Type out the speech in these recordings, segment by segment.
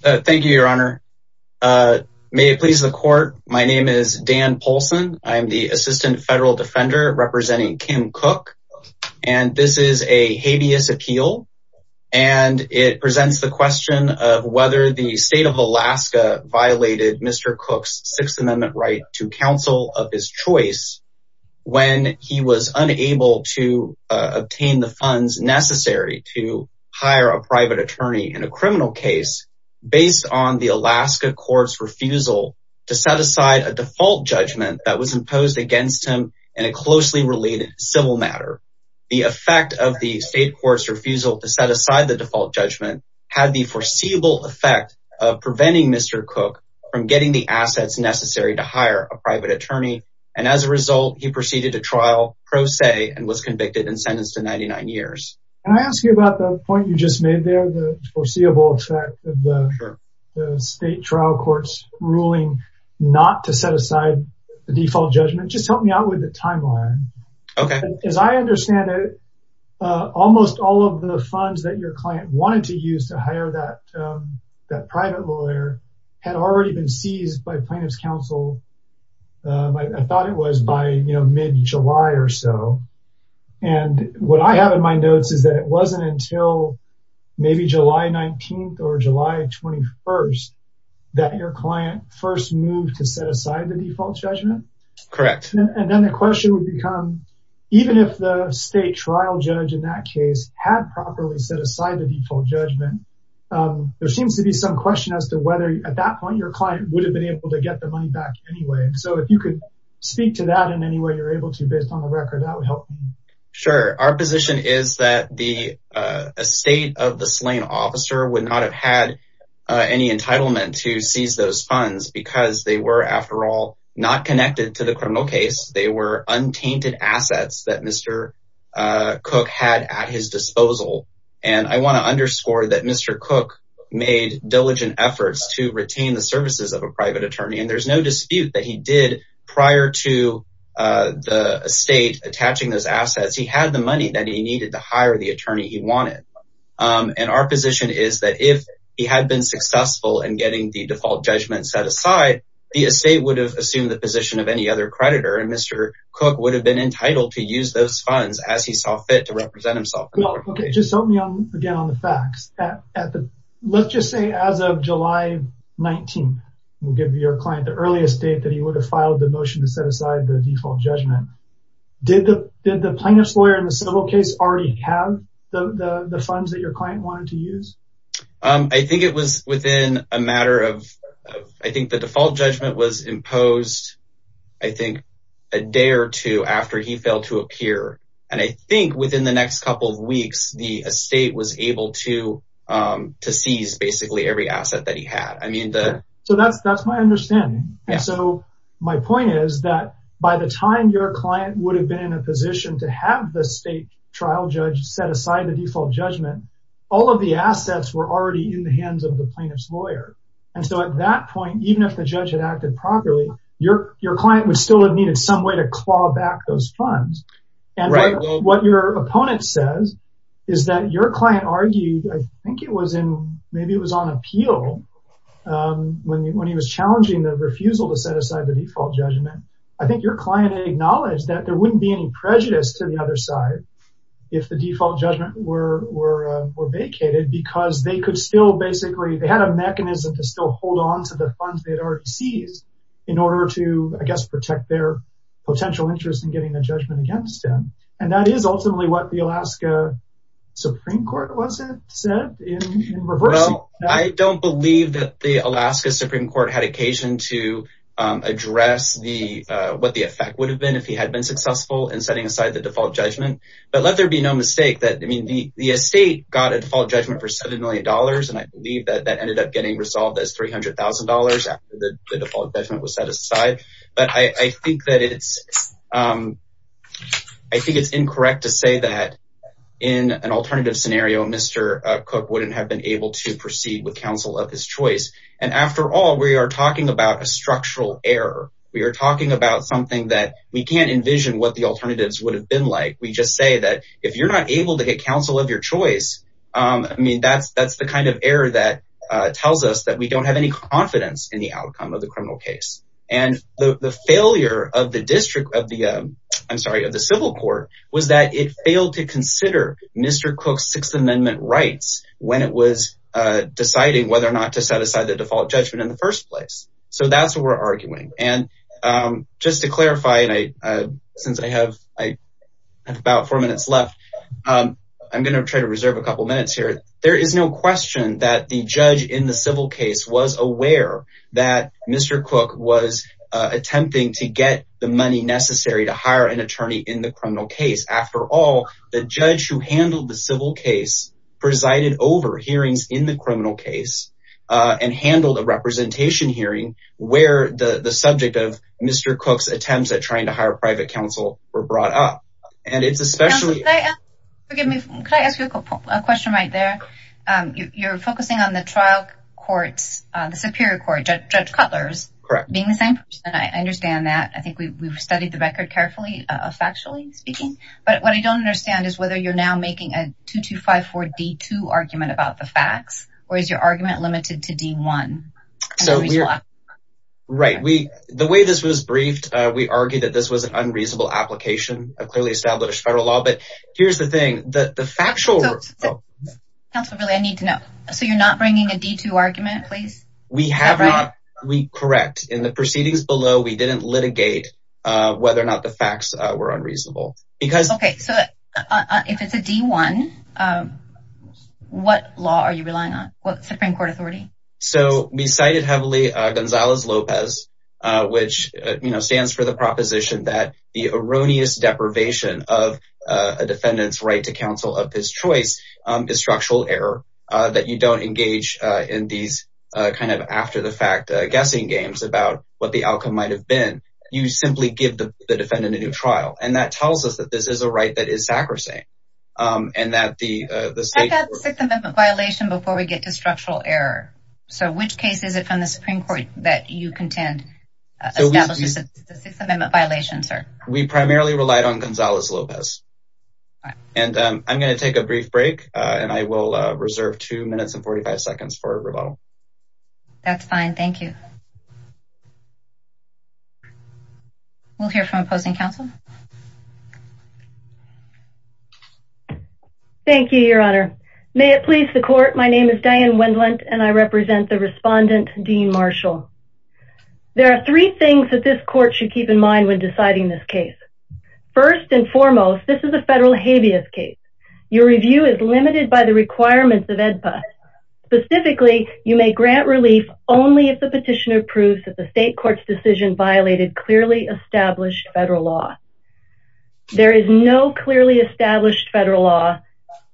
Thank you, your honor. May it please the court, my name is Dan Polson. I'm the assistant federal defender representing Kim Cook and this is a habeas appeal and it presents the question of whether the state of Alaska violated Mr. Cook's Sixth Amendment right to counsel of his choice when he was unable to obtain the case based on the Alaska court's refusal to set aside a default judgment that was imposed against him in a closely related civil matter. The effect of the state court's refusal to set aside the default judgment had the foreseeable effect of preventing Mr. Cook from getting the assets necessary to hire a private attorney and as a result he proceeded to trial pro se and was convicted and sentenced to 99 years. Can I ask you about the point you just made there, the foreseeable effect of the state trial court's ruling not to set aside the default judgment? Just help me out with the timeline. As I understand it, almost all of the funds that your client wanted to use to hire that private lawyer had already been seized by plaintiff's counsel. I thought it was by mid-July or so and what I have in my notes is that it may be July 19th or July 21st that your client first moved to set aside the default judgment? Correct. And then the question would become even if the state trial judge in that case had properly set aside the default judgment, there seems to be some question as to whether at that point your client would have been able to get the money back anyway and so if you could speak to that in any way you're able to based on the record that would help. Sure, our position is that the estate of the slain officer would not have had any entitlement to seize those funds because they were after all not connected to the criminal case. They were untainted assets that Mr. Cook had at his disposal and I want to underscore that Mr. Cook made diligent efforts to retain the services of a private attorney and there's no dispute that he did prior to the estate attaching those assets. He had the money that he needed to hire the attorney he wanted and our position is that if he had been successful in getting the default judgment set aside, the estate would have assumed the position of any other creditor and Mr. Cook would have been entitled to use those funds as he saw fit to represent himself. Okay, just help me out again on the facts. Let's just say as of July 19th, we'll give your client the earliest date that he would have filed the motion to set aside the default judgment. Did the plaintiff's lawyer in the civil case already have the funds that your client wanted to use? I think it was within a matter of I think the default judgment was imposed I think a day or two after he failed to appear and I think within the next couple of weeks the estate was able to to seize basically every asset that he had. So that's that's my understanding and so my point is that by the time your client would have been in a position to have the state trial judge set aside the default judgment, all of the assets were already in the hands of the plaintiff's lawyer and so at that point even if the judge had acted properly, your client would still have needed some way to claw back those funds and what your opponent says is that your client argued I think it was in maybe it was on appeal when he was challenging the refusal to set aside the default judgment. I think your client acknowledged that there wouldn't be any prejudice to the other side if the default judgment were vacated because they could still basically they had a mechanism to still hold on to the funds they had already seized in order to I guess protect their potential interest in getting the judgment against them and that is ultimately what the Alaska Supreme Court wasn't set in reverse. Well I don't believe that the Alaska Supreme Court had occasion to address the what the effect would have been if he had been successful in setting aside the default judgment but let there be no mistake that I mean the the estate got a default judgment for seven million dollars and I believe that that ended up getting resolved as three hundred thousand dollars after the default judgment was set aside but I think that it's I think it's incorrect to say that in an alternative scenario Mr. Cook wouldn't have been able to proceed with counsel of his choice and after all we are talking about a structural error we are talking about something that we can't envision what the alternatives would have been like we just say that if you're not able to get counsel of your choice I mean that's that's the kind of error that tells us that we don't have any confidence in the outcome of the district of the I'm sorry of the civil court was that it failed to consider Mr. Cook's Sixth Amendment rights when it was deciding whether or not to set aside the default judgment in the first place so that's what we're arguing and just to clarify and I since I have I have about four minutes left I'm gonna try to reserve a couple minutes here there is no question that the judge in the civil case was aware that Mr. Cook was attempting to get the money necessary to hire an attorney in the criminal case after all the judge who handled the civil case presided over hearings in the criminal case and handled a representation hearing where the the subject of Mr. Cook's attempts at trying to hire private counsel were brought up and it's especially forgive me can I ask a question right there you're focusing on the trial courts the Superior Court judge Cutler's correct being the same and I understand that I think we've studied the record carefully factually speaking but what I don't understand is whether you're now making a 2254 d2 argument about the facts or is your argument limited to d1 so we're right we the way this was briefed we argued that this was an unreasonable application of clearly established federal law but here's the thing that the factual I need to know so you're not bringing a d2 argument please we have not we correct in the proceedings below we didn't litigate whether or not the facts were unreasonable because okay so if it's a d1 what law are you relying on what Supreme Court authority so we cited heavily Gonzalez Lopez which you know stands for the proposition that the defendants right to counsel of his choice is structural error that you don't engage in these kind of after-the-fact guessing games about what the outcome might have been you simply give the defendant a new trial and that tells us that this is a right that is sacrosanct and that the the system of a violation before we get to structural error so which case is it from the Supreme Court that you contend so we have a system in that violation sir we primarily relied on Gonzalez Lopez and I'm going to take a brief break and I will reserve two minutes and 45 seconds for a rebuttal that's fine thank you we'll hear from opposing counsel thank you your honor may it please the court my name is Diane Wendlandt and I represent the respondent Dean Marshall there are three things that this court should keep in mind when deciding this case first and foremost this is a federal habeas case your review is limited by the requirements of EDPA specifically you may grant relief only if the petitioner proves that the state court's decision violated clearly established federal law there is no clearly established federal law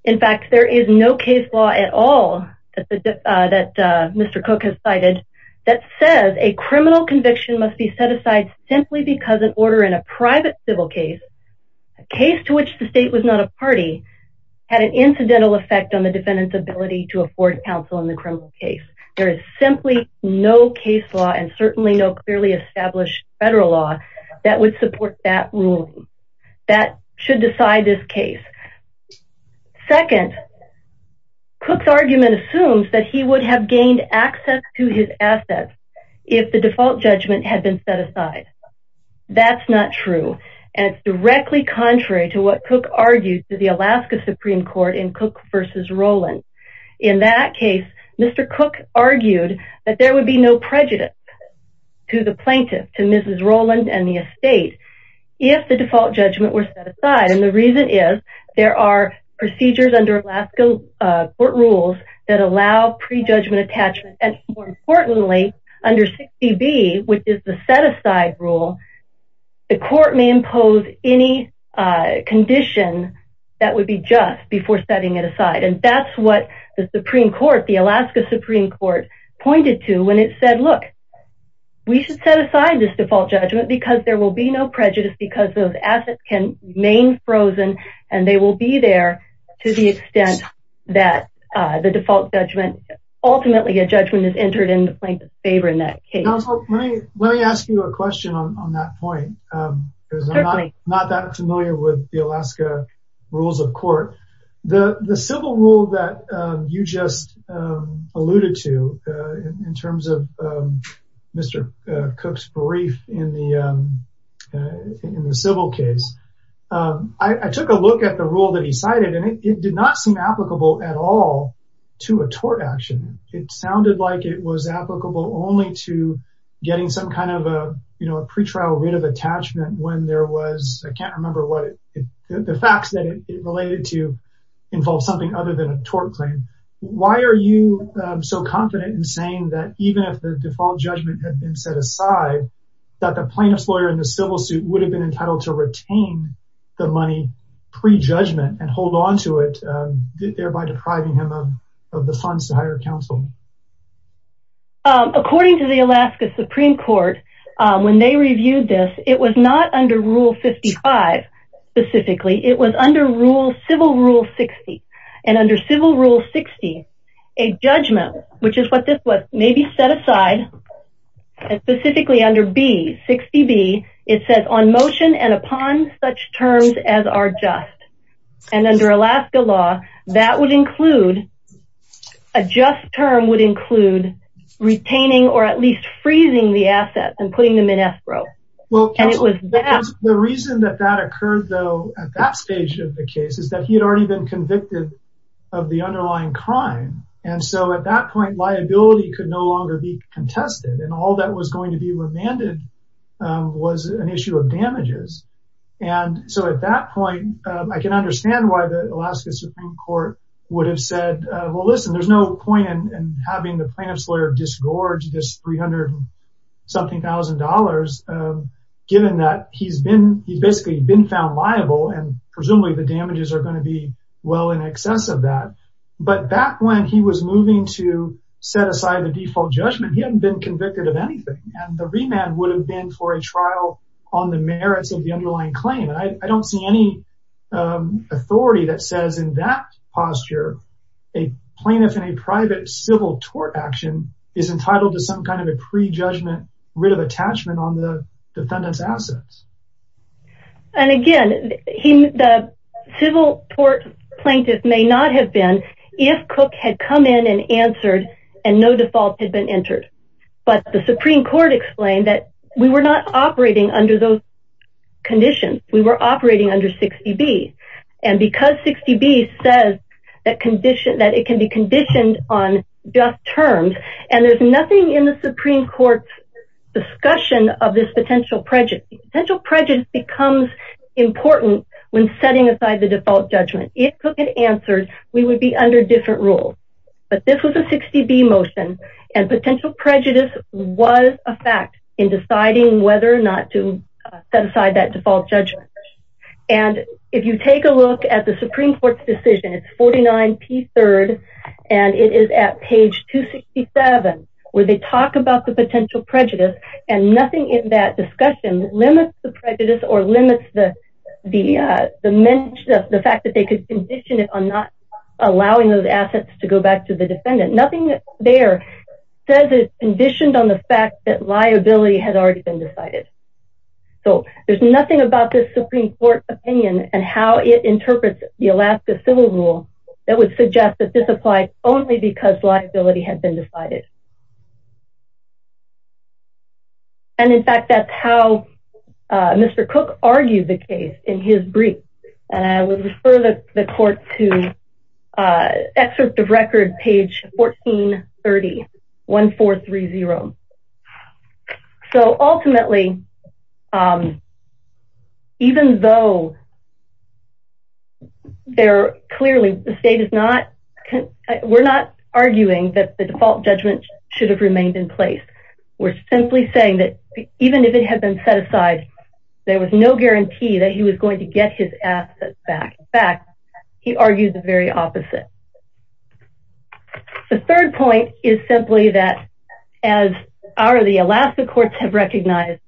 in fact there is no case law at all that Mr. Cook has cited that says a criminal conviction must be set aside simply because an order in a private civil case a case to which the state was not a party had an incidental effect on the defendants ability to afford counsel in the criminal case there is simply no case law and certainly no clearly established federal law that would support that ruling that should decide this case second Cook's argument assumes that he would have gained access to his assets if the default judgment had been set aside that's not true and it's directly contrary to what Cook argued to the Alaska Supreme Court in Cook versus Roland in that case mr. Cook argued that there would be no prejudice to the plaintiff to mrs. Roland and the estate if the default judgment were set aside the argument is there are procedures under Alaska court rules that allow pre-judgment attachment and more importantly under 60 B which is the set aside rule the court may impose any condition that would be just before setting it aside and that's what the Supreme Court the Alaska Supreme Court pointed to when it said look we should set aside this default judgment because there will be no prejudice because those assets can remain frozen and they will be there to the extent that the default judgment ultimately a judgment is entered in the plaintiff's favor in that case let me ask you a question on that point not that familiar with the Alaska rules of court the the civil rule that you just alluded to in terms of mr. Cook's brief in the in the civil case I took a look at the rule that he cited and it did not seem applicable at all to a tort action it sounded like it was applicable only to getting some kind of a you know a pretrial writ of attachment when there was I can't remember what it the facts that it related to involve something other than a tort claim why are you so confident in saying that even if the default judgment had been set aside that the plaintiff's lawyer in the civil suit would have been entitled to retain the money pre-judgment and hold on to it thereby depriving him of the funds to hire counsel according to the Alaska Supreme Court when they reviewed this it was not under rule 55 specifically it was under rule civil rule 60 and under civil rule 60 a judgment which is what this was maybe set aside and specifically under B 60 B it says on motion and upon such terms as are just and under Alaska law that would include a just term would include retaining or at least freezing the assets and putting them in escrow well it was the reason that that occurred though at that stage of the case is that he had already been convicted of the underlying crime and so at that point liability could no longer be contested and all that was going to be remanded was an issue of damages and so at that point I can understand why the Alaska Supreme Court would have said well listen there's no point in having the lawyer disgorge this 300 something thousand dollars given that he's been he's basically been found liable and presumably the damages are going to be well in excess of that but back when he was moving to set aside the default judgment he hadn't been convicted of anything and the remand would have been for a trial on the merits of the underlying claim I don't see any authority that says in that posture a plaintiff in a private civil tort action is entitled to some kind of a pre-judgment writ of attachment on the defendant's assets and again he the civil tort plaintiff may not have been if Cook had come in and answered and no default had been entered but the Supreme Court explained that we were not operating under those conditions we were and because 60 B says that condition that it can be conditioned on just terms and there's nothing in the Supreme Court's discussion of this potential prejudice potential prejudice becomes important when setting aside the default judgment if Cook had answered we would be under different rules but this was a 60 B motion and potential prejudice was a fact in deciding whether or not to set that default judgment and if you take a look at the Supreme Court's decision it's 49 P third and it is at page 267 where they talk about the potential prejudice and nothing in that discussion limits the prejudice or limits the the dimension of the fact that they could condition it on not allowing those assets to go back to the defendant nothing there says it's conditioned on the fact that liability has already been decided so there's nothing about this Supreme Court opinion and how it interprets the Alaska civil rule that would suggest that this applied only because liability had been decided and in fact that's how mr. Cook argued the case in his brief and I would refer the court to excerpt of record page 14 30 1 4 3 0 so ultimately even though they're clearly the state is not we're not arguing that the default judgment should have remained in place we're simply saying that even if it had been set aside there was no guarantee that he was going to get his assets back back he argued the very opposite the third point is simply that as are the Alaska courts have recognized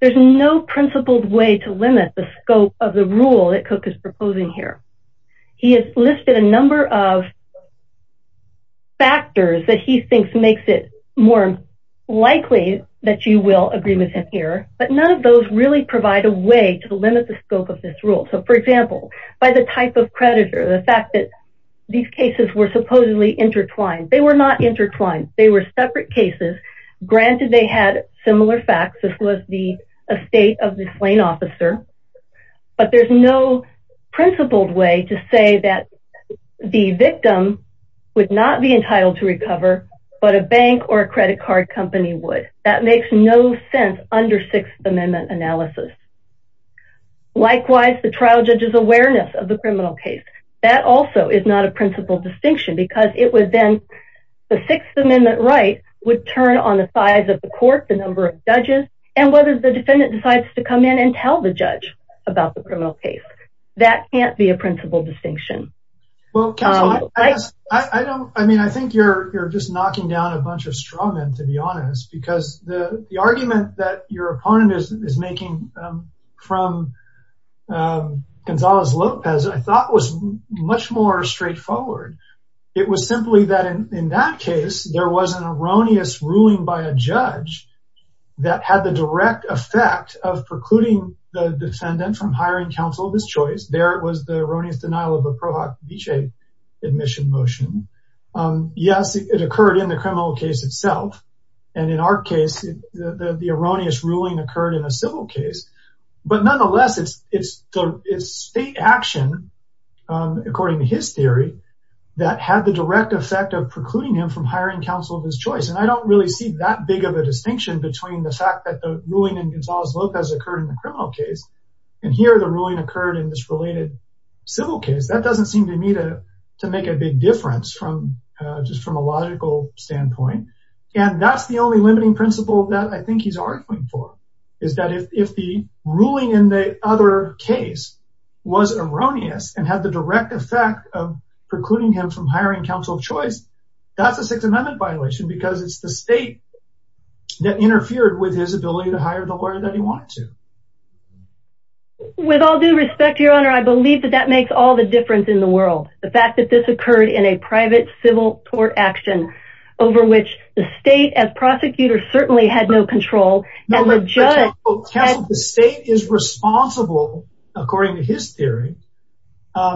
there's no principled way to limit the scope of the rule that cook is proposing here he has listed a number of factors that he thinks makes it more likely that you will agree with him here but none of those really provide a way to limit the scope of this rule so for example by the type of predator the fact that these cases were supposedly intertwined they were not intertwined they were separate cases granted they had similar facts this was the estate of this Lane officer but there's no principled way to say that the victim would not be entitled to recover but a bank or a credit card company would that makes no sense under Sixth Amendment analysis likewise the trial judges awareness of the criminal case that also is not a principle distinction because it was then the Sixth Amendment right would turn on the sides of the court the number of judges and whether the defendant decides to come in and tell the judge about the criminal case that can't be a principle distinction well I don't I mean I think you're just knocking down a bunch of straw men to be honest because the argument that your opponent is making from Gonzales Lopez I thought was much more straightforward it was simply that in that case there was an erroneous ruling by a judge that had the direct effect of precluding the defendant from hiring counsel of his choice there it was the erroneous denial of a Prohoc Dece admission motion yes it occurred in the criminal case itself and in our case the erroneous ruling occurred in a civil case but nonetheless it's it's it's state action according to his theory that had the direct effect of precluding him from hiring counsel of his choice and I don't really see that big of a distinction between the fact that the ruling in Gonzales Lopez occurred in the criminal case and here the ruling occurred in this related civil case that doesn't seem to me to to make a big difference from just from a logical standpoint and that's the only principle that I think he's arguing for is that if the ruling in the other case was erroneous and had the direct effect of precluding him from hiring counsel of choice that's a Sixth Amendment violation because it's the state that interfered with his ability to hire the lawyer that he wanted to with all due respect your honor I believe that that makes all the difference in the world the fact that this occurred in a private civil court action over which the state as prosecutor certainly had no control the state is responsible according to his theory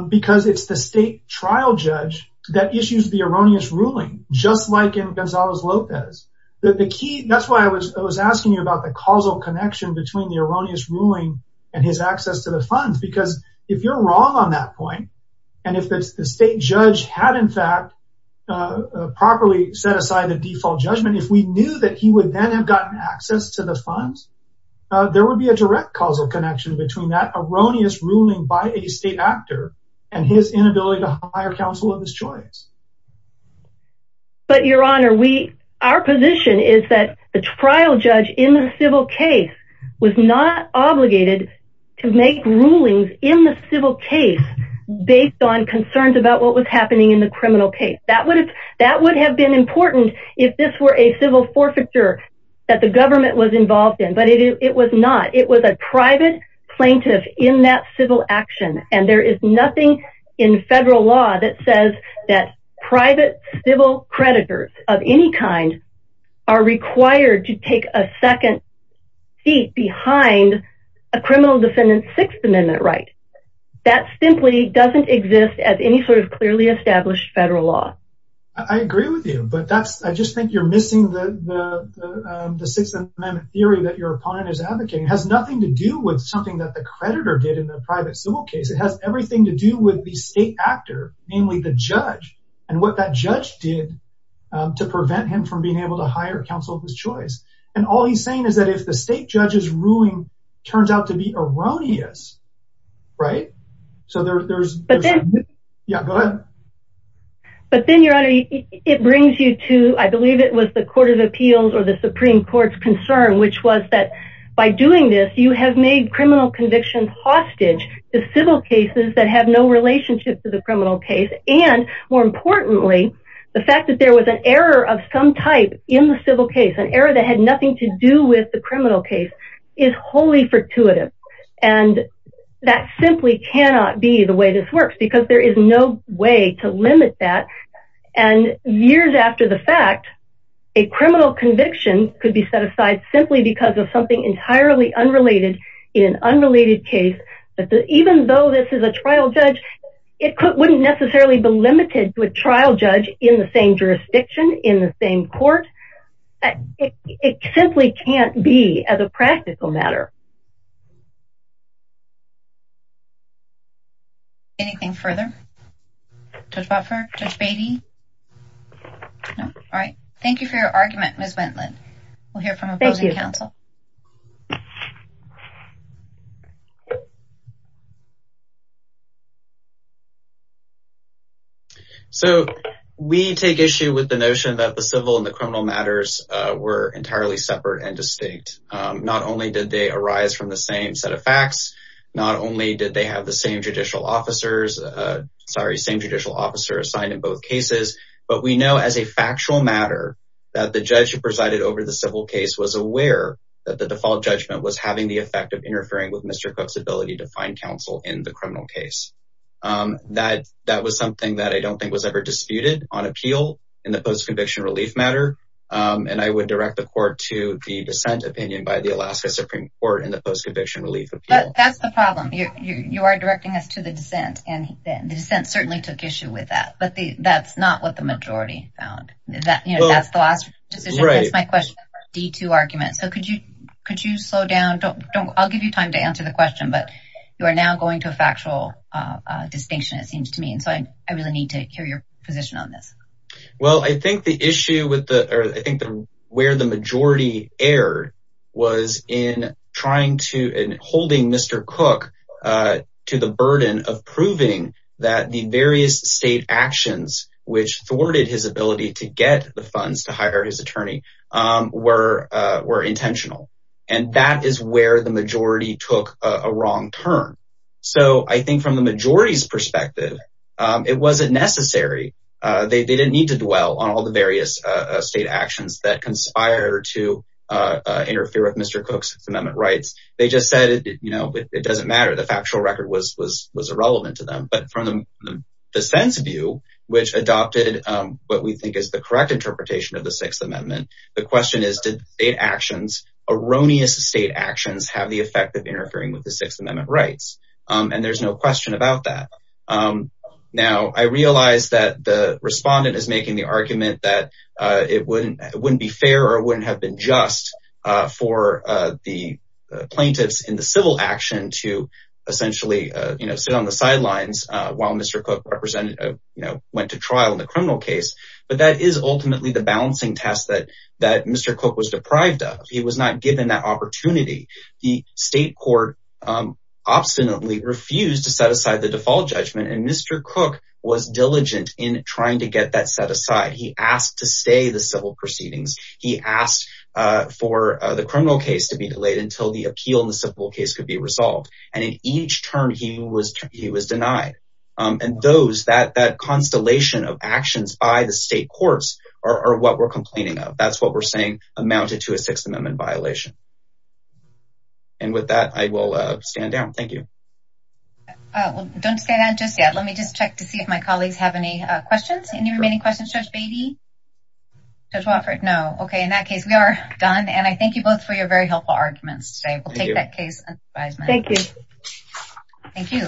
because it's the state trial judge that issues the erroneous ruling just like in Gonzales Lopez that the key that's why I was I was asking you about the causal connection between the erroneous ruling and his access to the funds because if you're wrong on that point and if it's the state judge had in properly set aside the default judgment if we knew that he would then have gotten access to the funds there would be a direct causal connection between that erroneous ruling by a state actor and his inability to hire counsel of his choice but your honor we our position is that the trial judge in the civil case was not obligated to make rulings in the civil case based on concerns about what was happening in the criminal case that would that would have been important if this were a civil forfeiture that the government was involved in but it was not it was a private plaintiff in that civil action and there is nothing in federal law that says that private civil creditors of any kind are required to take a second seat behind a criminal defendant Sixth Amendment right that simply doesn't exist as any sort of clearly established federal law I agree with you but that's I just think you're missing the the Sixth Amendment theory that your opponent is advocating has nothing to do with something that the creditor did in the private civil case it has everything to do with the state actor namely the judge and what that judge did to prevent him from being able to hire counsel of his choice and all he's saying is that if the state judge's right so there's but then yeah but then your honor it brings you to I believe it was the Court of Appeals or the Supreme Court's concern which was that by doing this you have made criminal convictions hostage the civil cases that have no relationship to the criminal case and more importantly the fact that there was an error of some type in the civil case an error that had nothing to do with the and that simply cannot be the way this works because there is no way to limit that and years after the fact a criminal conviction could be set aside simply because of something entirely unrelated in an unrelated case but even though this is a trial judge it wouldn't necessarily be limited to a trial judge in the same jurisdiction in the same court it simply can't be as a practical matter. Anything further? Judge Botford? Judge Beatty? No? All right. Thank you for your argument Ms. Wendland. We'll hear from opposing counsel. So we take issue with the notion that the civil and the criminal matters were entirely separate and distinct not only did they arise from the same set of facts not only did they have the same judicial officers sorry same judicial officer assigned in both cases but we know as a factual matter that the judge who presided over the civil case was aware that the default judgment was having the effect of interfering with Mr. Cook's ability to find counsel in the criminal case that that was something that I don't think was ever disputed on appeal in the post-conviction relief matter and I would direct the court to the dissent opinion by the Alaska Supreme Court in the post-conviction relief appeal. That's the problem you are directing us to the dissent and the dissent certainly took issue with that but that's not what the majority found that you know that's the last decision. That's my question. D2 argument so could you could you slow down don't don't I'll give you time to answer the question but you are now going to a factual distinction it seems to me and so I really need to hear your position on this. Well I think the issue with the I think the where the majority erred was in trying to and holding Mr. Cook to the burden of proving that the various state actions which thwarted his ability to get the funds to hire his attorney were were intentional and that is where the majority took a wrong turn so I think from the majority's perspective it wasn't necessary they didn't need to dwell on all the various state actions that conspire to interfere with Mr. Cook's amendment rights they just said you know it doesn't matter the factual record was was was irrelevant to them but from the dissent's view which adopted what we think is the correct interpretation of the Sixth Amendment the question is did state actions erroneous state actions have the effect of interfering with the Sixth Amendment rights and there's no question about that now I realize that the respondent is making the argument that it wouldn't it wouldn't be fair or wouldn't have been just for the plaintiffs in the civil action to essentially you know sit on the sidelines while Mr. Cook represented you know went to trial in the criminal case but that is ultimately the balancing test that that Mr. Cook was deprived of he was not given that opportunity the state court obstinately refused to set aside the default judgment and Mr. Cook was diligent in trying to get that set aside he asked to stay the civil proceedings he asked for the criminal case to be delayed until the appeal in the civil case could be resolved and in each term he was he was denied and those that that constellation of actions by the state courts are what we're complaining of that's what we're saying amounted to a Sixth Amendment violation and with that I will stand down thank you don't say that just yet let me just check to see if my colleagues have any questions any remaining questions judge baby judge Wofford no okay in that case we are done and I thank you both for your very helpful arguments say we'll take that case thank you thank you